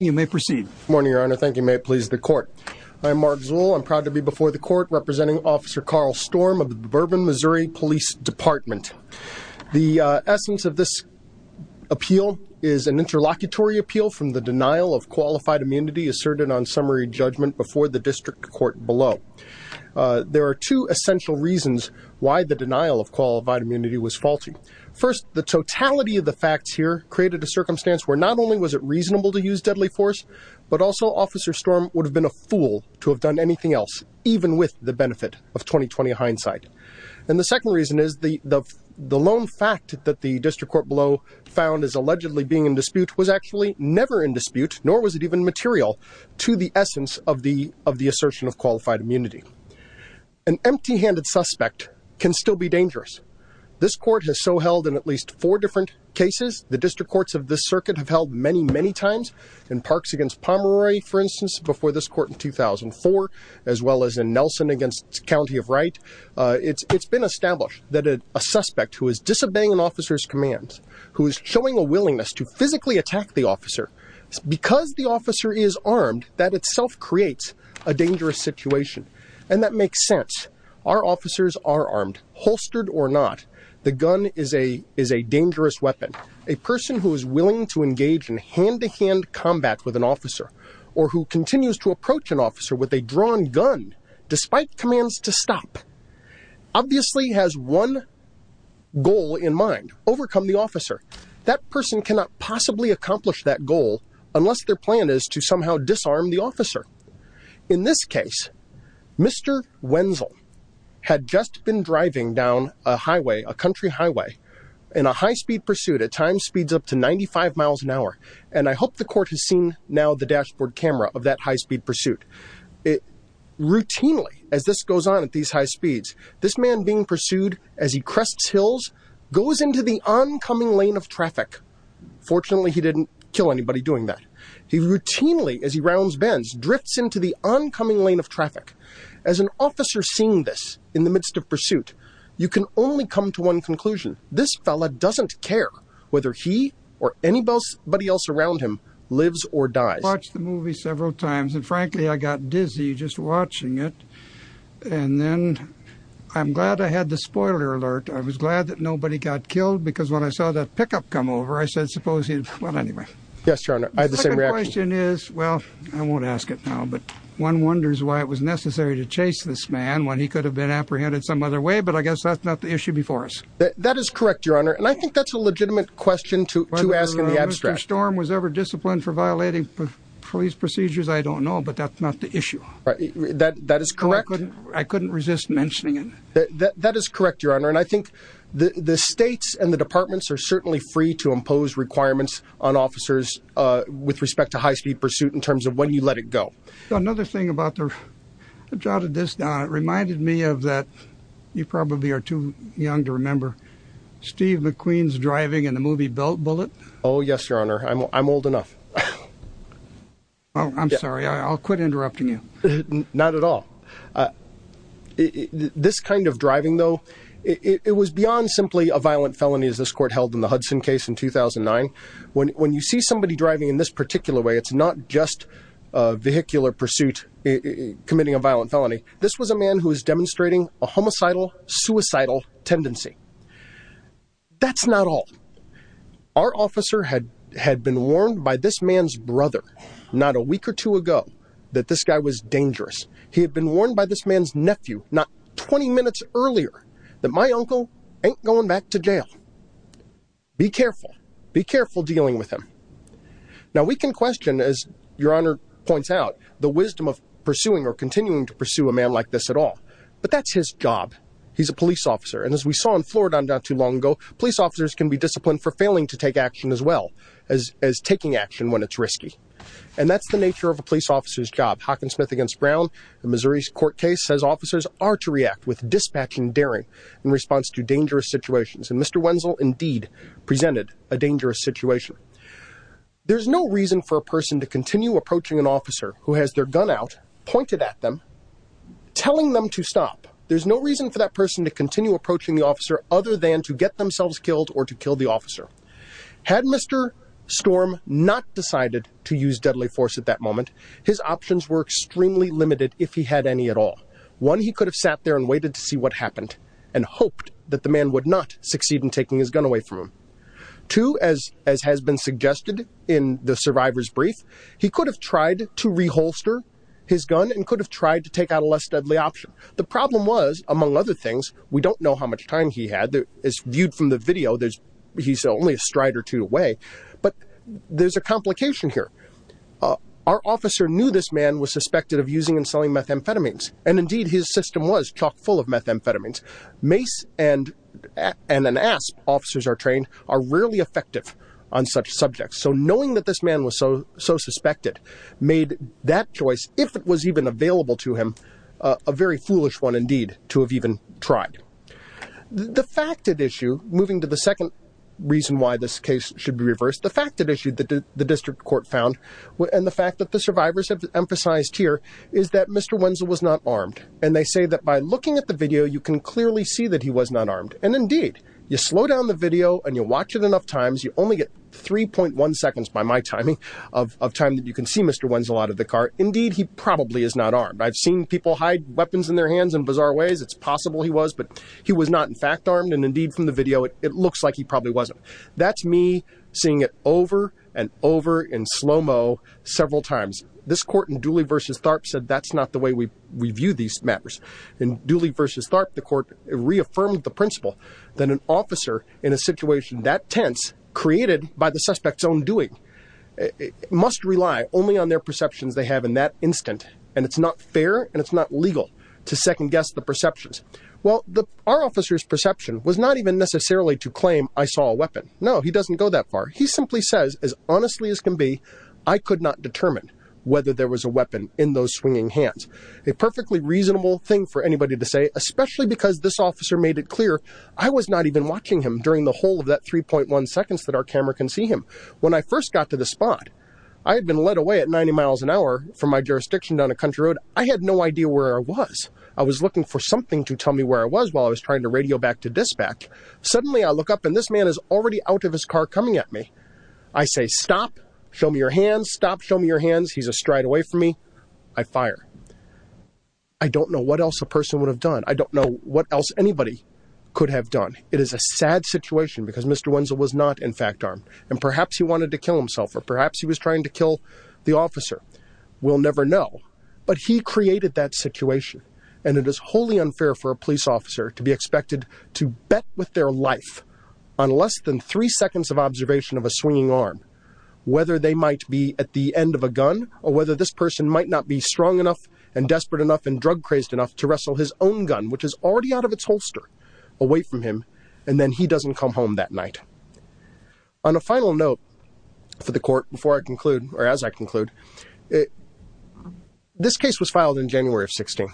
You may proceed. Good morning, Your Honor. Thank you. May it please the court. I'm Mark Zuhl. I'm proud to be before the court representing Officer Carl Storm of the Bourbon, Missouri Police Department. The essence of this appeal is an interlocutory appeal from the denial of qualified immunity asserted on summary judgment before the district court below. There are two essential reasons why the denial of qualified immunity was faulty. First, the totality of the facts here created a circumstance where not only was it reasonable to use deadly force, but also Officer Storm would have been a fool to have done anything else, even with the benefit of 20-20 hindsight. And the second reason is the lone fact that the district court below found as allegedly being in dispute was actually never in dispute, nor was it even material to the essence of the assertion of qualified immunity. An empty-handed suspect can still be dangerous. This court has so held in at least four different cases. The district courts of this circuit have held many, many times in parks against Pomeroy, for instance, before this court in 2004, as well as in Nelson against County of Wright. It's been established that a suspect who is disobeying an officer's commands, who is showing a willingness to physically attack the officer because the officer is armed, that itself creates a dangerous situation. And that makes sense. Our officers are armed, holstered or not. The gun is a dangerous weapon. A person who is willing to engage in hand-to-hand combat with an officer, or who continues to approach an officer with a drawn gun, despite commands to stop, obviously has one goal in mind, overcome the officer. That person cannot possibly accomplish that goal unless their plan is to somehow disarm the officer. In this case, Mr. Wenzel had just been driving down a highway, a country highway, in a high-speed pursuit at times speeds up to 95 miles an hour. And I hope the court has seen now the dashboard camera of that high-speed pursuit. Routinely, as this goes on at these high speeds, this man being pursued as he crests hills, goes into the oncoming lane of traffic. Fortunately, he didn't kill anybody doing that. He routinely, as he rounds bends, drifts into the oncoming lane of traffic. As an officer seeing this in the midst of pursuit, you can only come to one conclusion. This fella doesn't care whether he, or anybody else around him, lives or dies. I watched the movie several times, and frankly, I got dizzy just watching it. And then, I'm glad I had the spoiler alert. I was glad that nobody got killed, because when I saw that pickup come over, I said, supposing, well, anyway. Yes, your honor, I had the same reaction. The second question is, well, I won't ask it now, but one wonders why it was necessary to chase this man when he could have been apprehended some other way, but I guess that's not the issue before us. That is correct, your honor, and I think that's a legitimate question to ask in the abstract. Whether Mr. Storm was ever disciplined for violating police procedures, I don't know, but that's not the issue. That is correct. I couldn't resist mentioning it. That is correct, your honor, and I think the states and the departments are certainly free to impose requirements on officers with respect to high-speed pursuit in terms of when let it go. Another thing about this, it reminded me of that, you probably are too young to remember, Steve McQueen's driving in the movie Bullet. Oh, yes, your honor, I'm old enough. I'm sorry, I'll quit interrupting you. Not at all. This kind of driving, though, it was beyond simply a violent felony, as this court held in the Hudson case in 2009. When you see somebody driving in this particular way, it's not just a vehicular pursuit, committing a violent felony. This was a man who was demonstrating a homicidal, suicidal tendency. That's not all. Our officer had been warned by this man's brother, not a week or two ago, that this guy was dangerous. He had been warned by this man's nephew, not 20 minutes earlier, that my uncle ain't going back to jail. Be careful. Be careful dealing with him. Now we can question, as your honor points out, the wisdom of pursuing or continuing to pursue a man like this at all. But that's his job. He's a police officer. And as we saw in Florida not too long ago, police officers can be disciplined for failing to take action as well as taking action when it's risky. And that's the nature of a police officer's job. Hockensmith against Brown, the Missouri court case says officers are to react with dispatching daring in response to dangerous situations. And Mr. Wenzel indeed presented a dangerous situation. There's no reason for a person to continue approaching an officer who has their gun out pointed at them, telling them to stop. There's no reason for that person to continue approaching the officer other than to get themselves killed or to kill the officer. Had Mr. Storm not decided to use deadly force at that moment, his options were extremely limited. If he had any at all, one, he could have sat there and waited to see what happened and hoped that the man would not succeed in taking his gun away from him to, as, as has been suggested in the survivor's brief, he could have tried to reholster his gun and could have tried to take out a less deadly option. The problem was among other things, we don't know how much time he had as viewed from the video. He's only a stride or two away, but there's a complication here. Our officer knew this man was suspected of using and selling methamphetamines and indeed his system was chock full of methamphetamines. Mace and, and an ASP officers are trained are rarely effective on such subjects. So knowing that this man was so, so suspected made that choice, if it was even available to him, uh, a very foolish one indeed to have even tried the fact that issue moving to the second reason why this case should be reversed. The fact that issued the district court found and the fact that the survivors have emphasized here is that Mr. Wenzel was not armed. And they say that by looking at the video, you can clearly see that he was not armed. And indeed you slow down the video and you watch it enough times. You only get 3.1 seconds by my timing of, of time that you can see Mr. Wenzel out of the car. Indeed, he probably is not armed. I've seen people hide weapons in their hands in bizarre ways. It's possible he was, but he was not in fact armed. And indeed from the video, it looks like he probably wasn't. That's me seeing it over and over in slow-mo several times. This court in Dooley versus Tharp said, that's not the way we, we view these matters in Dooley versus Tharp. The court reaffirmed the principle that an officer in a situation that tense created by the suspect's own doing must rely only on their perceptions they have in that instant. And it's not fair and it's not legal to second guess the perceptions. Well, the, our officer's perception was not even necessarily to claim I saw a weapon. No, he doesn't go that far. He simply says, as honestly as can be, I could not determine whether there was a weapon in those swinging hands. A perfectly reasonable thing for anybody to say, especially because this officer made it When I first got to the spot, I had been led away at 90 miles an hour from my jurisdiction down a country road. I had no idea where I was. I was looking for something to tell me where I was while I was trying to radio back to dispatch. Suddenly I look up and this man is already out of his car coming at me. I say, stop, show me your hands. Stop, show me your hands. He's a stride away from me. I fire. I don't know what else a person would have done. I don't know what else anybody could have done. It is a sad situation because Mr. Wenzel was not in fact armed and perhaps he wanted to kill himself or perhaps he was trying to kill the officer. We'll never know, but he created that situation and it is wholly unfair for a police officer to be expected to bet with their life on less than three seconds of observation of a swinging arm, whether they might be at the end of a gun or whether this person might not be strong enough and desperate enough and drug crazed enough to wrestle his own gun, which is already out of its holster away from him. And then he doesn't come home that night on a final note for the court before I conclude, or as I conclude it, this case was filed in January of 16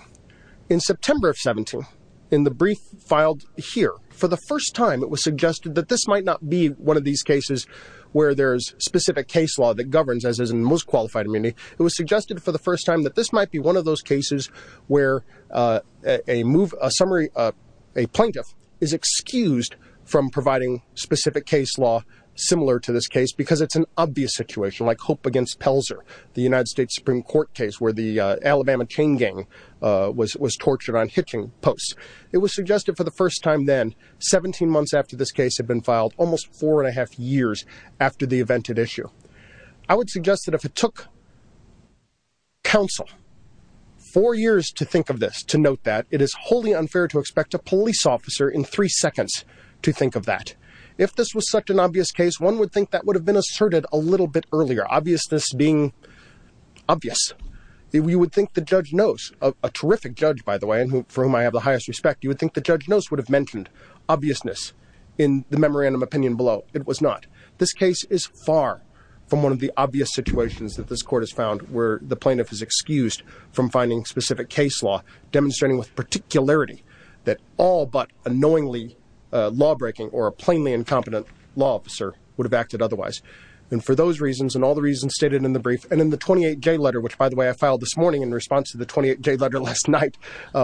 in September of 17 in the brief filed here for the first time, it was suggested that this might not be one of these cases where there's specific case law that governs as, as in most qualified immunity. It was suggested for the first time that this might be one of those cases where, uh, a move, a summary, uh, a plaintiff is excused from providing specific case law similar to this case because it's an obvious situation like hope against Pelzer, the United States Supreme Court case where the, uh, Alabama chain gang, uh, was, was tortured on hitching posts. It was suggested for the first time, then 17 months after this case had been filed almost four and a half years after the event at issue, I would suggest that if it took counsel four years to think of this, to note that it is wholly unfair to expect a police officer in three seconds to think of that. If this was such an obvious case, one would think that would have been asserted a little bit earlier, obviousness being obvious that we would think the judge knows a terrific judge, by the way, and for whom I have the highest respect, you would think the judge would have mentioned obviousness in the memorandum opinion below. It was not this case is far from one of the obvious situations that this court has found where the plaintiff is excused from finding specific case law demonstrating with particularity that all, but unknowingly, uh, law-breaking or a plainly incompetent law officer would have acted otherwise. And for those reasons, and all the reasons stated in the brief and in the 28 J letter, which by the way, I filed this morning in response to the 28 J letter last night,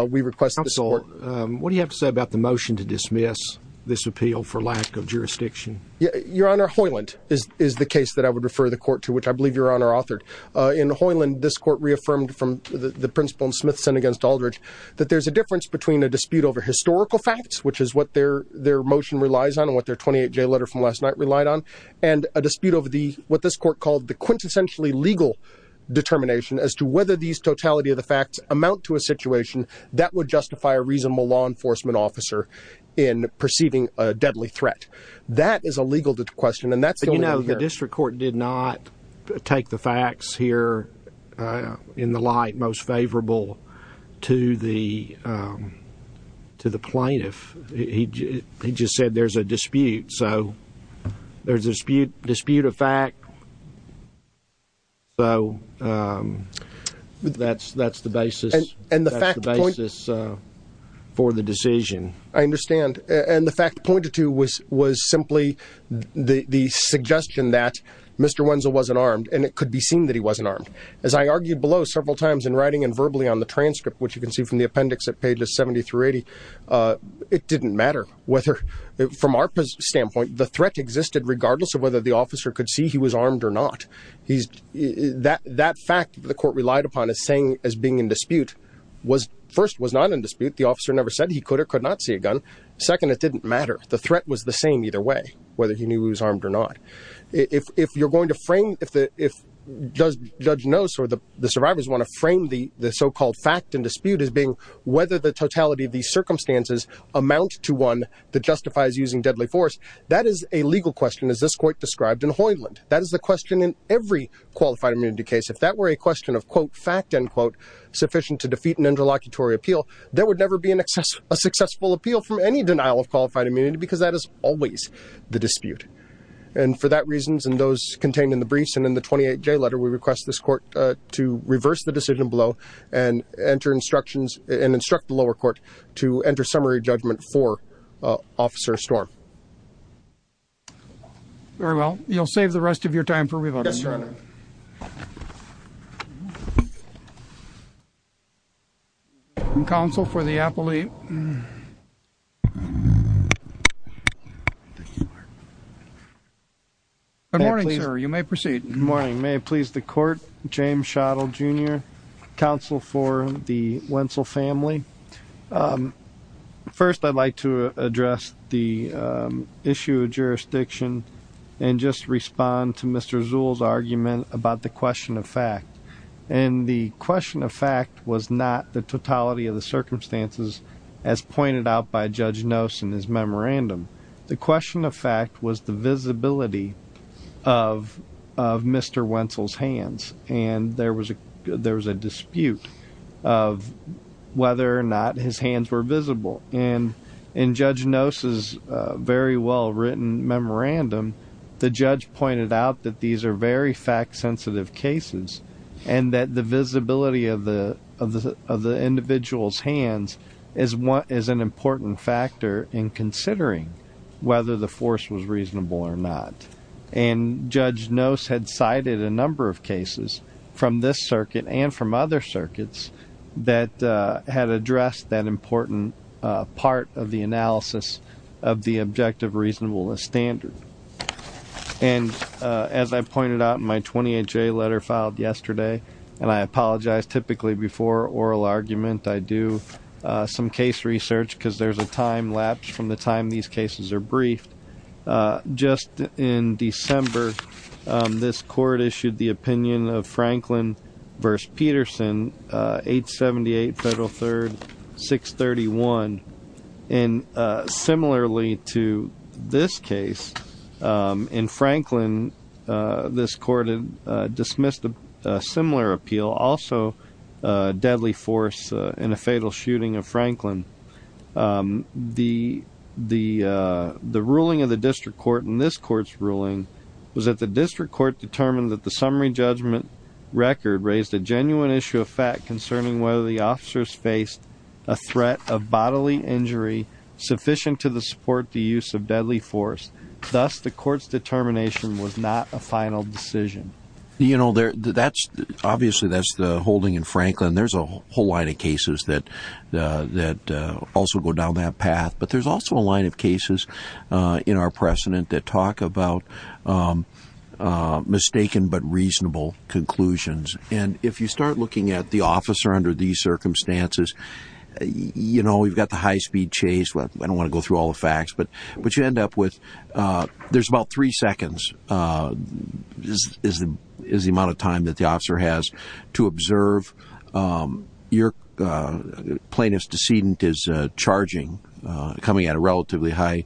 we request this court. Um, what do you have to say about the motion to dismiss this appeal for lack of jurisdiction? Yeah, your honor Hoyland is, is the case that I would refer the court to, which I believe your honor authored, uh, in Hoyland, this court reaffirmed from the principal and Smithson against Aldridge, that there's a difference between a dispute over historical facts, which is what their, their motion relies on and what their 28 J letter from last night relied on. And a dispute over the, what this court called the quintessentially legal determination as to whether these totality of the facts amount to a situation that would justify a reasonable law enforcement officer in perceiving a deadly threat. That is a legal question. And that's, you know, the district court did not take the facts here, uh, in the light most favorable to the, um, to the plaintiff. He, he just said there's a dispute. So there's a dispute, dispute of fact. So, um, that's, that's the basis and the fact of this, uh, for the decision. I understand. And the fact pointed to was, was simply the suggestion that Mr. Wenzel wasn't armed and it could be seen that he wasn't armed. As I argued below several times in writing and verbally on the transcript, which you can see from the appendix at pages 70 through 80, uh, it didn't matter whether from our standpoint, the threat existed regardless of whether the officer could see he was armed or not. He's that, that fact that the court relied upon as saying, as being in dispute was first was not in dispute. The officer never said he could or could not see a gun. Second, it didn't matter. The threat was the same either way, whether he knew he was armed or not. If you're going to frame, if the, if does judge knows, or the survivors want to frame the, the so-called fact and dispute as being whether the totality of these circumstances amount to one that justifies using deadly force. That is a legal question. As this court described in Hoyland, that is the question in every qualified immunity case. If that were a question of quote fact, end quote, sufficient to defeat an interlocutory appeal, there would never be an excess, a successful appeal from any denial of qualified immunity, because that is always the dispute. And for that reasons, and those contained in the briefs and in the 28 J letter, we request this court, uh, to reverse the decision below and enter instructions and instruct the lower court to enter judgment for, uh, officer storm. Very well. You'll save the rest of your time for revote. Counsel for the appellee. Good morning, sir. You may proceed. Good morning. May it please the court, James shuttle jr. Counsel for the Wentzel family. Um, first I'd like to address the, um, issue of jurisdiction and just respond to Mr. Zool's argument about the question of fact, and the question of fact was not the totality of the circumstances as pointed out by judge in his memorandum. The question of fact was the visibility of, of Mr. Wentzel's hands. And there was a, there was a dispute of whether or not his hands were visible. And in judge noses, uh, very well written memorandum, the judge pointed out that these are very fact sensitive cases and that visibility of the, of the, of the individual's hands is one is an important factor in considering whether the force was reasonable or not. And judge knows had cited a number of cases from this circuit and from other circuits that, uh, had addressed that important, uh, part of the analysis of the objective reasonableness standard. And, uh, as I pointed out in my 28 J letter filed yesterday, and I apologize, typically before oral argument, I do, uh, some case research cause there's a time lapse from the time these cases are briefed. Uh, just in December, um, this court issued the opinion of Franklin verse Peterson, uh, eight 78 federal third six 31. And, uh, similarly to this case, um, in Franklin, uh, this court, uh, dismissed a similar appeal, also a deadly force, uh, in a fatal shooting of Franklin. Um, the, the, uh, the ruling of the district court in this court's ruling was that the district court determined that the summary judgment record raised a genuine issue of fact concerning whether the officers faced a threat of bodily injury sufficient to the support, the use of deadly force. Thus, the court's determination was not a final decision. You know, there that's obviously that's the holding in Franklin. There's a whole line of cases that, uh, that, uh, also go down that path, but there's also a line of cases, uh, in our precedent that talk about, um, uh, mistaken, but reasonable conclusions. And if you start looking at the officer under these circumstances, you know, we've got the high speed chase. Well, I don't want to go through all the facts, but, but you end up with, uh, there's about three seconds, uh, is, is, is the amount of time that the officer has to observe. Um, your, uh, plaintiff's decedent is, uh, charging, uh, coming at a relatively high,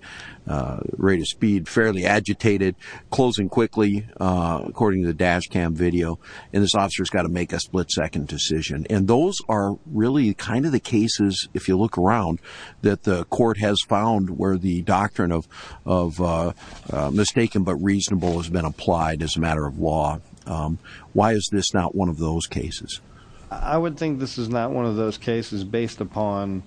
uh, rate of speed, fairly agitated, closing quickly, uh, according to the dash cam video. And this officer has got to make a split second decision. And those are really kind of the cases. If you look around that the court has found where the doctrine of, of, uh, uh, mistaken, but reasonable has been applied as a matter of law. Um, why is this not one of those cases? I would think this is not one of those cases based upon,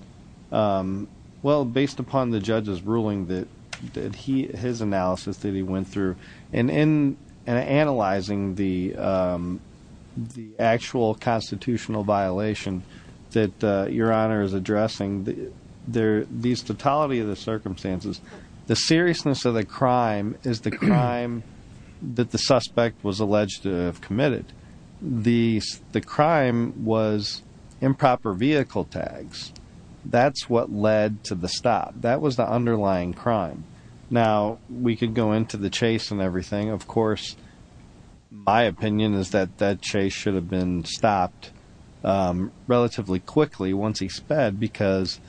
um, well, based upon the judge's ruling that did he, his analysis that he went through and, and, and analyzing the, um, the actual constitutional violation that, uh, your honor is addressing the, there, these totality of the circumstances, the seriousness of the crime is the crime that the suspect was alleged to have committed. The, the crime was improper vehicle tags. That's what led to the stop. That was the underlying crime. Now we could go into the chase and everything. Of course, my opinion is that that chase should have been stopped, um, relatively quickly once he sped because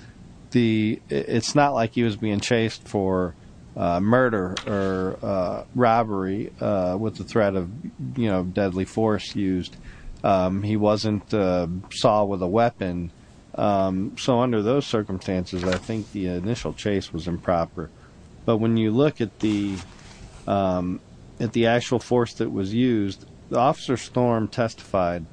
the, it's not like he was being chased for a murder or a robbery, uh, with the threat of, you know, deadly force used. Um, he wasn't, uh, saw with a weapon. Um, so under those circumstances, I think the initial chase was improper. But when you look at the, um, at the actual force that was used, the officer storm testified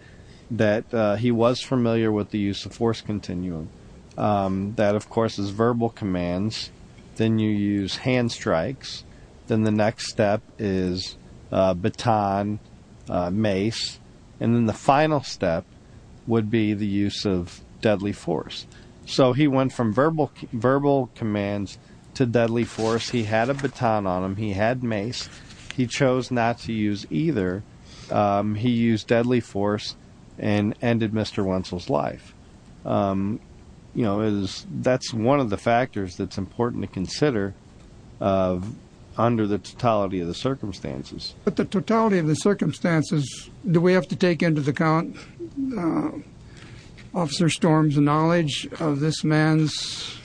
that he was familiar with the use of force continuum. Um, that of course is verbal commands. Then you use hand strikes. Then the next step is a baton, uh, mace. And then the final step would be the use of deadly force. So he went from verbal, verbal commands to deadly force. He had a baton on him. He had mace. He chose not to use either. Um, he used deadly force and ended Mr. Wentzell's life. Um, you know, it is, that's one of the factors that's important to consider, uh, under the totality of the circumstances. But the totality of the circumstances, do we have to take into the count, uh, officer storms, the knowledge of this man's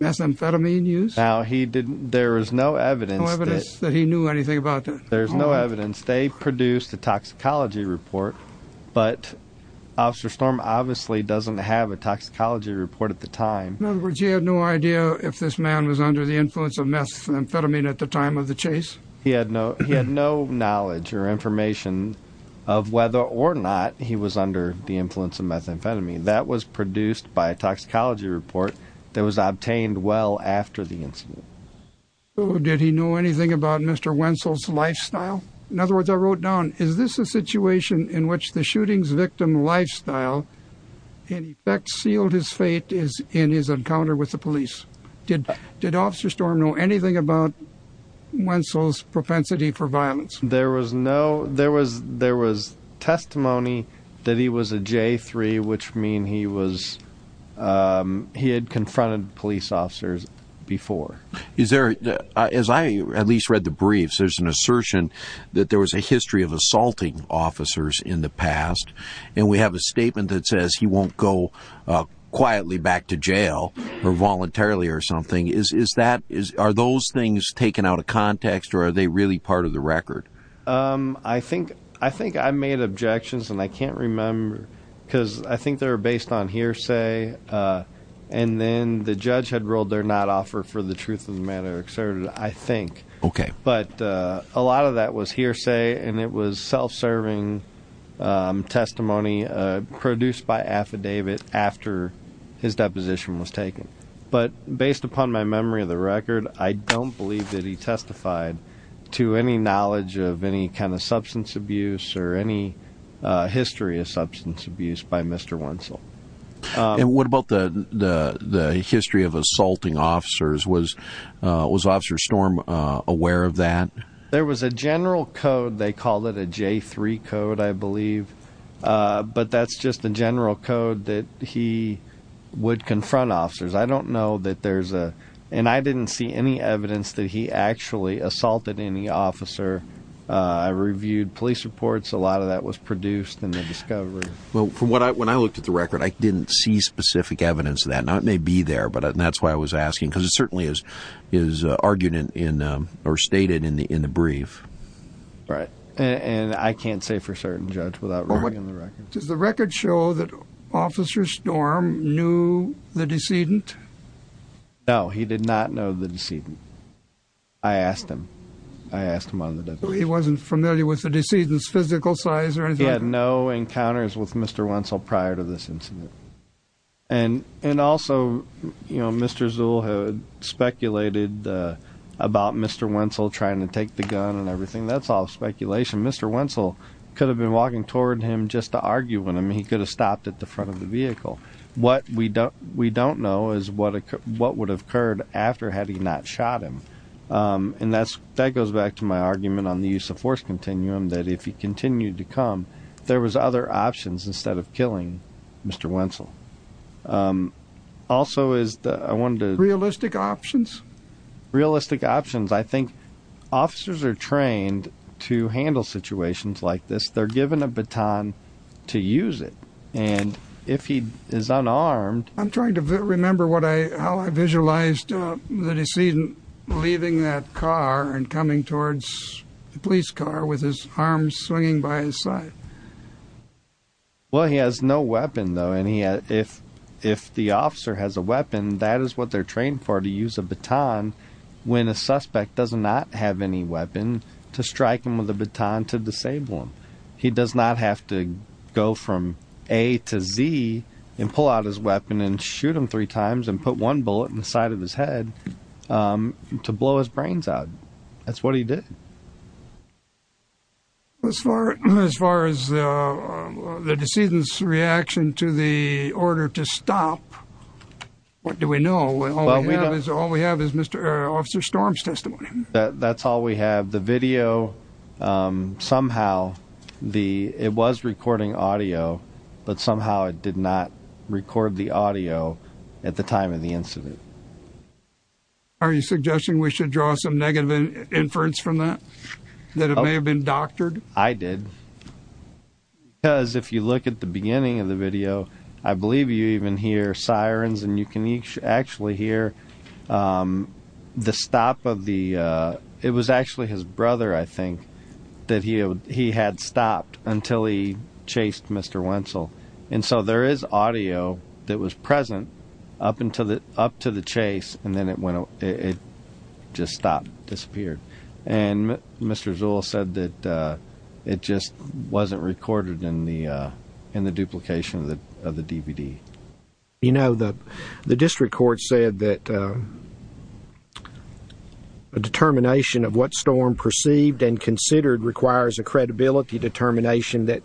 methamphetamine use? Now he didn't, there was no evidence that he knew anything about that. There's no evidence. They produced a toxicology report, but officer storm obviously doesn't have a toxicology report at the time. In other words, you had no idea if this man was under the influence of methamphetamine at the he was under the influence of methamphetamine that was produced by a toxicology report that was obtained well after the incident. So did he know anything about Mr. Wentzell's lifestyle? In other words, I wrote down, is this a situation in which the shooting's victim lifestyle in effect sealed his fate is in his encounter with the police. Did, did officer storm know anything about Wentzell's propensity for violence? There was no, there was, there was testimony that he was a J3, which mean he was, um, he had confronted police officers before. Is there, as I at least read the briefs, there's an assertion that there was a history of assaulting officers in the past. And we have a statement that says he won't go quietly back to taking out a context or are they really part of the record? Um, I think, I think I made objections and I can't remember cause I think they're based on hearsay. Uh, and then the judge had rolled their not offer for the truth of the matter exerted, I think. Okay. But, uh, a lot of that was hearsay and it was self-serving, um, testimony, uh, produced by affidavit after his deposition was I don't believe that he testified to any knowledge of any kind of substance abuse or any, uh, history of substance abuse by Mr. Wentzell. Um, and what about the, the, the history of assaulting officers was, uh, was officer storm, uh, aware of that? There was a general code. They call it a J3 code, I believe. Uh, but that's just the general code that he would confront officers. I don't know that there's a, and I didn't see any evidence that he actually assaulted any officer. Uh, I reviewed police reports. A lot of that was produced in the discovery. Well, from what I, when I looked at the record, I didn't see specific evidence of that. Now it may be there, but that's why I was asking cause it certainly is, is argued in, in, um, or stated in the, in the brief. Right. And I can't say for certain judge without reading the record. Does the record show that officer storm knew the decedent? No, he did not know the decedent. I asked him, I asked him on the definition. He wasn't familiar with the decedent's physical size or anything? He had no encounters with Mr. Wentzell prior to this incident. And, and also, you know, Mr. Zuhl had speculated, uh, about Mr. Wentzell trying to take the gun and everything. That's all speculation. Mr. Wentzell could have been walking toward him just to argue with him. He could have stopped at the front of the vehicle. What we don't, we don't know is what, what would have occurred after had he not shot him. Um, and that's, that goes back to my argument on the use of force continuum, that if he continued to come, there was other options instead of killing Mr. Wentzell. Um, also is the, I wanted to realistic options, realistic options. I think officers are trained to handle situations like this. They're given a baton to use it. And if he is unarmed, I'm trying to remember what I, how I visualized the decedent leaving that car and coming towards the police car with his arms swinging by his side. Well, he has no weapon though. And he, if, if the officer has a weapon, that is what they're trained for, to use a baton when a suspect does not have any weapon, to strike him with a baton to disable him. He does not have to go from A to Z and pull out his weapon and shoot him three times and put one bullet in the side of his head, um, to blow his brains out. That's what he did. As far, as far as, uh, the decedent's reaction to the order to stop, what do we know? All we have is, all we have is Mr., uh, Officer Storm's testimony. That, that's all we have. The video, um, somehow the, it was recording audio, but somehow it did not record the audio at the time of the incident. Are you suggesting we should draw some negative inference from that? That it may have been doctored? I did. Because if you look at the beginning of the video, I believe you even hear sirens and you can actually hear, um, the stop of the, uh, it was actually his brother, I think, that he, he had stopped until he chased Mr. Wentzel. And so there is audio that was present up until the, up to the chase, and then it went, it just stopped, disappeared. And Mr. Zuhl said that, uh, it just wasn't recorded in the, uh, in the duplication of the, of the DVD. You know, the, the district court said that, um, a determination of what Storm perceived and considered requires a credibility determination that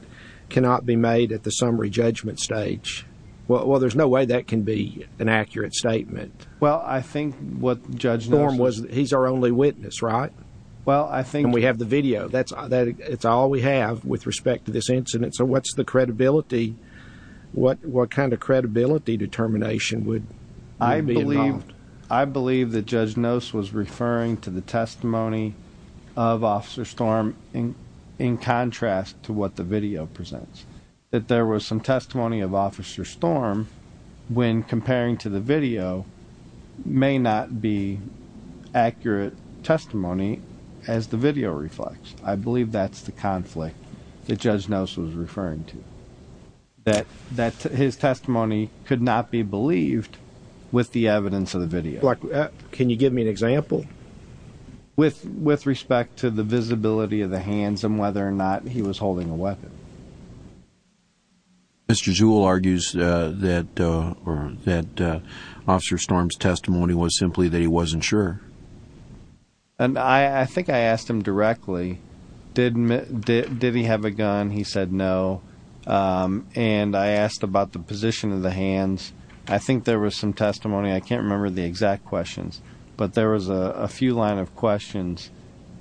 cannot be made at the summary judgment stage. Well, there's no way that can be an accurate statement. Well, I think what he's our only witness, right? Well, I think we have the video that's, that it's all we have with respect to this incident. So what's the credibility, what, what kind of credibility determination would I believe? I believe that Judge Nose was referring to the testimony of Officer Storm in, in contrast to what the video presents, that there was some testimony of Officer Storm when comparing to the video may not be accurate testimony as the video reflects. I believe that's the conflict that Judge Nose was referring to that, that his testimony could not be believed with the evidence of the video. Like, can you give me an example? With, with respect to the visibility of the hands and whether or not he was holding a weapon. Mr. Jewell argues that, uh, or that, uh, Officer Storm's testimony was simply that he wasn't sure. And I, I think I asked him directly, did, did, did he have a gun? He said no. Um, and I asked about the position of the hands. I think there was some testimony. I can't remember the exact questions, but there was a few line of questions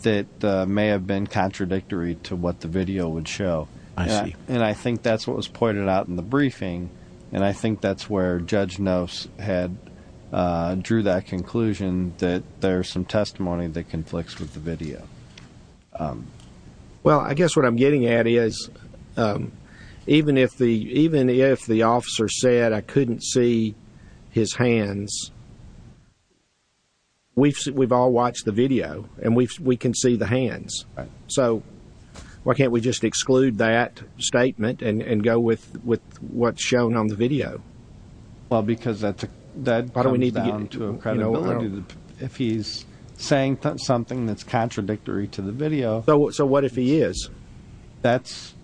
that may have been contradictory to what the and I think that's what was pointed out in the briefing. And I think that's where Judge Nose had, uh, drew that conclusion that there's some testimony that conflicts with the video. Well, I guess what I'm getting at is, um, even if the, even if the officer said I couldn't see his hands, we've, we've all watched the video and we've, we can see the hands. So why can't we just exclude that statement and, and go with, with what's shown on the video? Well, because that's, that comes down to credibility. If he's saying something that's contradictory to the video. So, so what if he is? That's,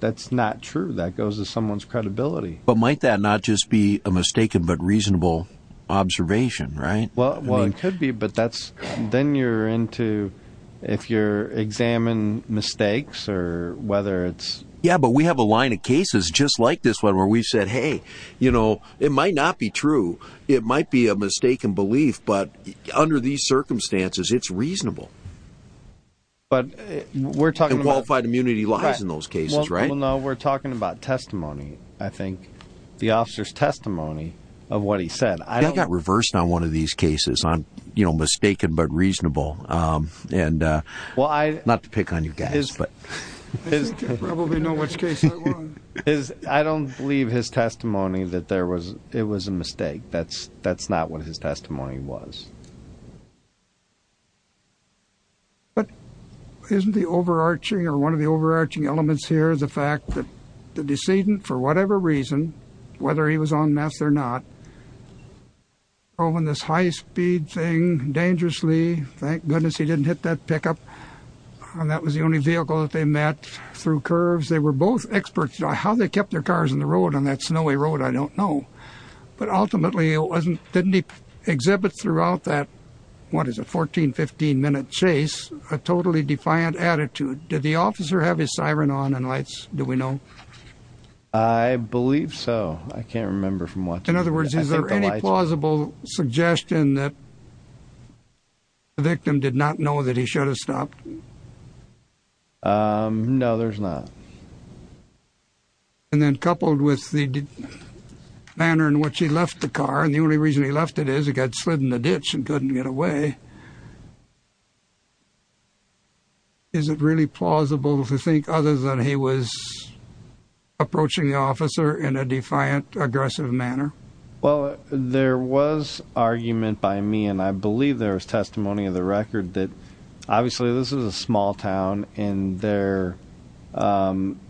that's not true. That goes to someone's credibility. But might that not just be a mistaken, but reasonable observation, right? Well, it could be, but that's, then you're into, if you're examine mistakes or whether it's, yeah, but we have a line of cases just like this one where we've said, Hey, you know, it might not be true. It might be a mistaken belief, but under these circumstances, it's reasonable. But we're talking qualified immunity lies in those cases, right? No, we're talking about testimony. I think the officer's testimony of what he said, I got reversed on one of these cases on, you know, mistaken, but reasonable. And, uh, well, I not to pick on you guys, but I don't believe his testimony that there was, it was a mistake. That's, that's not what his testimony was. But isn't the overarching or one of the overarching elements here is the fact that the decedent, for whatever reason, whether he was on mass or not, oh, when this high speed thing dangerously, thank goodness he didn't hit that pickup. And that was the only vehicle that they met through curves. They were both experts on how they kept their cars in the road on that snowy road. I don't know, but ultimately it wasn't, didn't he exhibit throughout that. What is a 14, 15 minute chase, a totally defiant attitude. Did the officer have his siren on and lights? Do we know? I believe so. I can't remember from what, in other words, is there any plausible suggestion that the victim did not know that he should have stopped? Um, no, there's not. And then coupled with the manner in which he left the car. And the only reason he left it is it got slid in the ditch and couldn't get away. Is it really plausible to think other than he was approaching the officer in a defiant, aggressive manner? Well, there was argument by me and I believe there was testimony of the record that obviously this is a small town and there, um,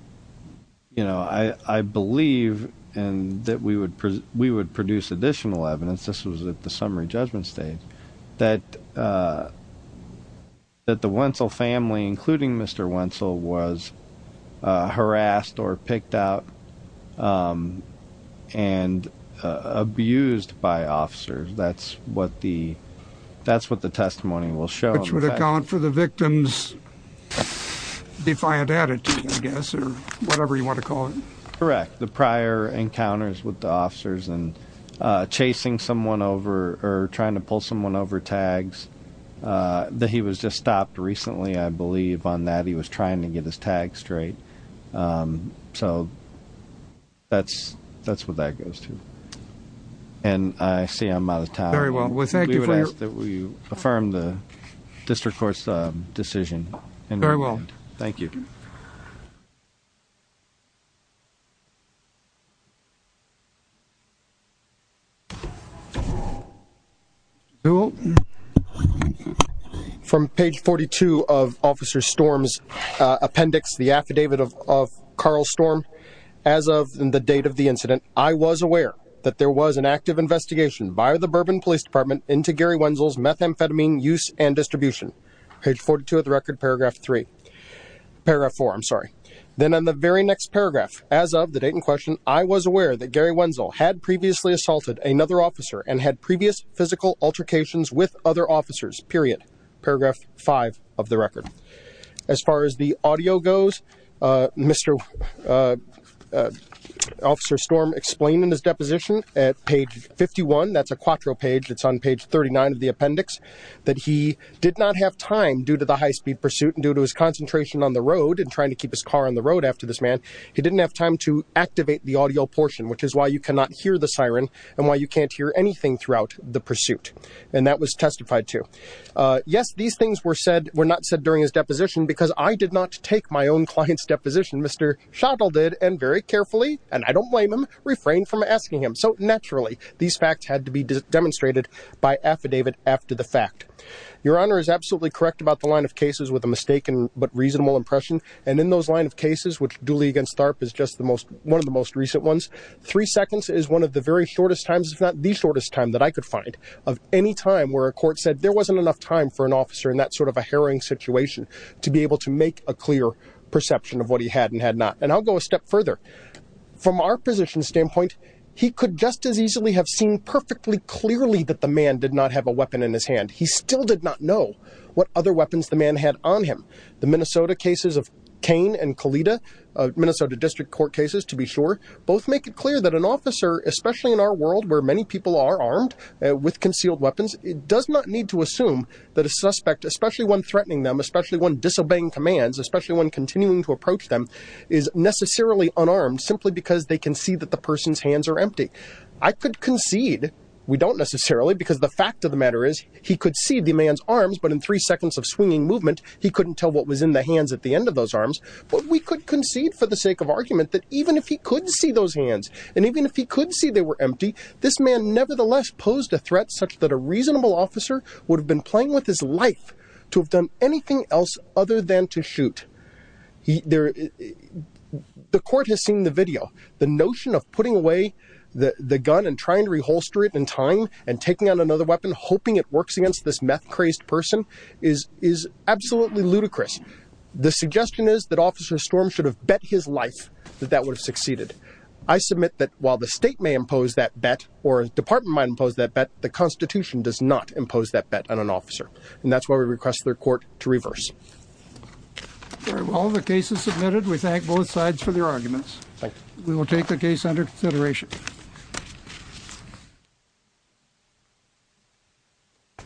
you know, I, I believe and that we would, we would produce additional evidence. This was at the summary judgment stage that, uh, that the Wenzel family, including Mr. Wenzel was, uh, harassed or picked out, um, and, uh, abused by officers. That's what the, that's what the testimony will show. Which would account for the victim's defiant attitude, I guess, or whatever you want to call it. Correct. The prior encounters with the officers and, uh, chasing someone over or trying to pull someone over tags, uh, that he was just stopped recently. I believe on that he was trying to get his tag straight. Um, so that's, that's what that goes to. And I see I'm out of town. Very well. We would ask that we affirm the district court's decision and very well. Thank you. From page 42 of officer storms, uh, appendix, the affidavit of, of Carl storm as of the date of the incident, I was aware that there was an active investigation by the bourbon police department into Gary Wenzel's methamphetamine use and distribution page 42 of the record, paragraph three, paragraph four. I'm sorry. Then on the very next paragraph, as of the date in question, I was aware that Gary Wenzel had previously assaulted another officer and had previous physical altercations with other officers, period, paragraph five of the record. As far as the audio goes, uh, Mr. Uh, uh, officer storm explained in his deposition at page 51, that's a quattro page. It's on page 39 of the appendix that he did not have time due to the high-speed pursuit and due to his concentration on the road and trying to keep his car on the road after this man, he didn't have time to activate the audio portion, which is why you cannot hear the siren and why you can't hear anything throughout the pursuit. And that was testified to, uh, yes, these things were said, were not said during his deposition because I did not take my own client's deposition. Mr. shuttle did, and very carefully, and I don't blame him refrain from asking him. So naturally these facts had to be demonstrated by affidavit. After the fact, your honor is absolutely correct about the line of cases with a mistaken, but reasonable impression. And in those line of cases, which duly against TARP is just the most, one of the most recent ones, three seconds is one of the very shortest times. It's not the shortest time that I could find of any time where a court said there wasn't enough time for an officer in that sort of a harrowing situation to be able to make a clear perception of what he had and had not. And I'll go a step further from our position he could just as easily have seen perfectly clearly that the man did not have a weapon in his hand. He still did not know what other weapons the man had on him. The Minnesota cases of Kane and Kalita, uh, Minnesota district court cases, to be sure both make it clear that an officer, especially in our world where many people are armed with concealed weapons, it does not need to assume that a suspect, especially when threatening them, especially when disobeying commands, especially when continuing to approach them is necessarily unarmed simply because they can see that the person's hands are empty. I could concede we don't necessarily, because the fact of the matter is he could see the man's arms, but in three seconds of swinging movement, he couldn't tell what was in the hands at the end of those arms. But we could concede for the sake of argument that even if he couldn't see those hands, and even if he couldn't see they were empty, this man nevertheless posed a threat such that a reasonable officer would have been playing with his life to have done anything else other than to shoot. He there, the court has seen the notion of putting away the gun and trying to reholster it in time and taking on another weapon, hoping it works against this meth crazed person is, is absolutely ludicrous. The suggestion is that officer storm should have bet his life that that would have succeeded. I submit that while the state may impose that bet or department might impose that bet, the constitution does not impose that bet on an officer. And that's why we request their court to reverse all the cases submitted. We thank both sides for their arguments. We will take the case under consideration.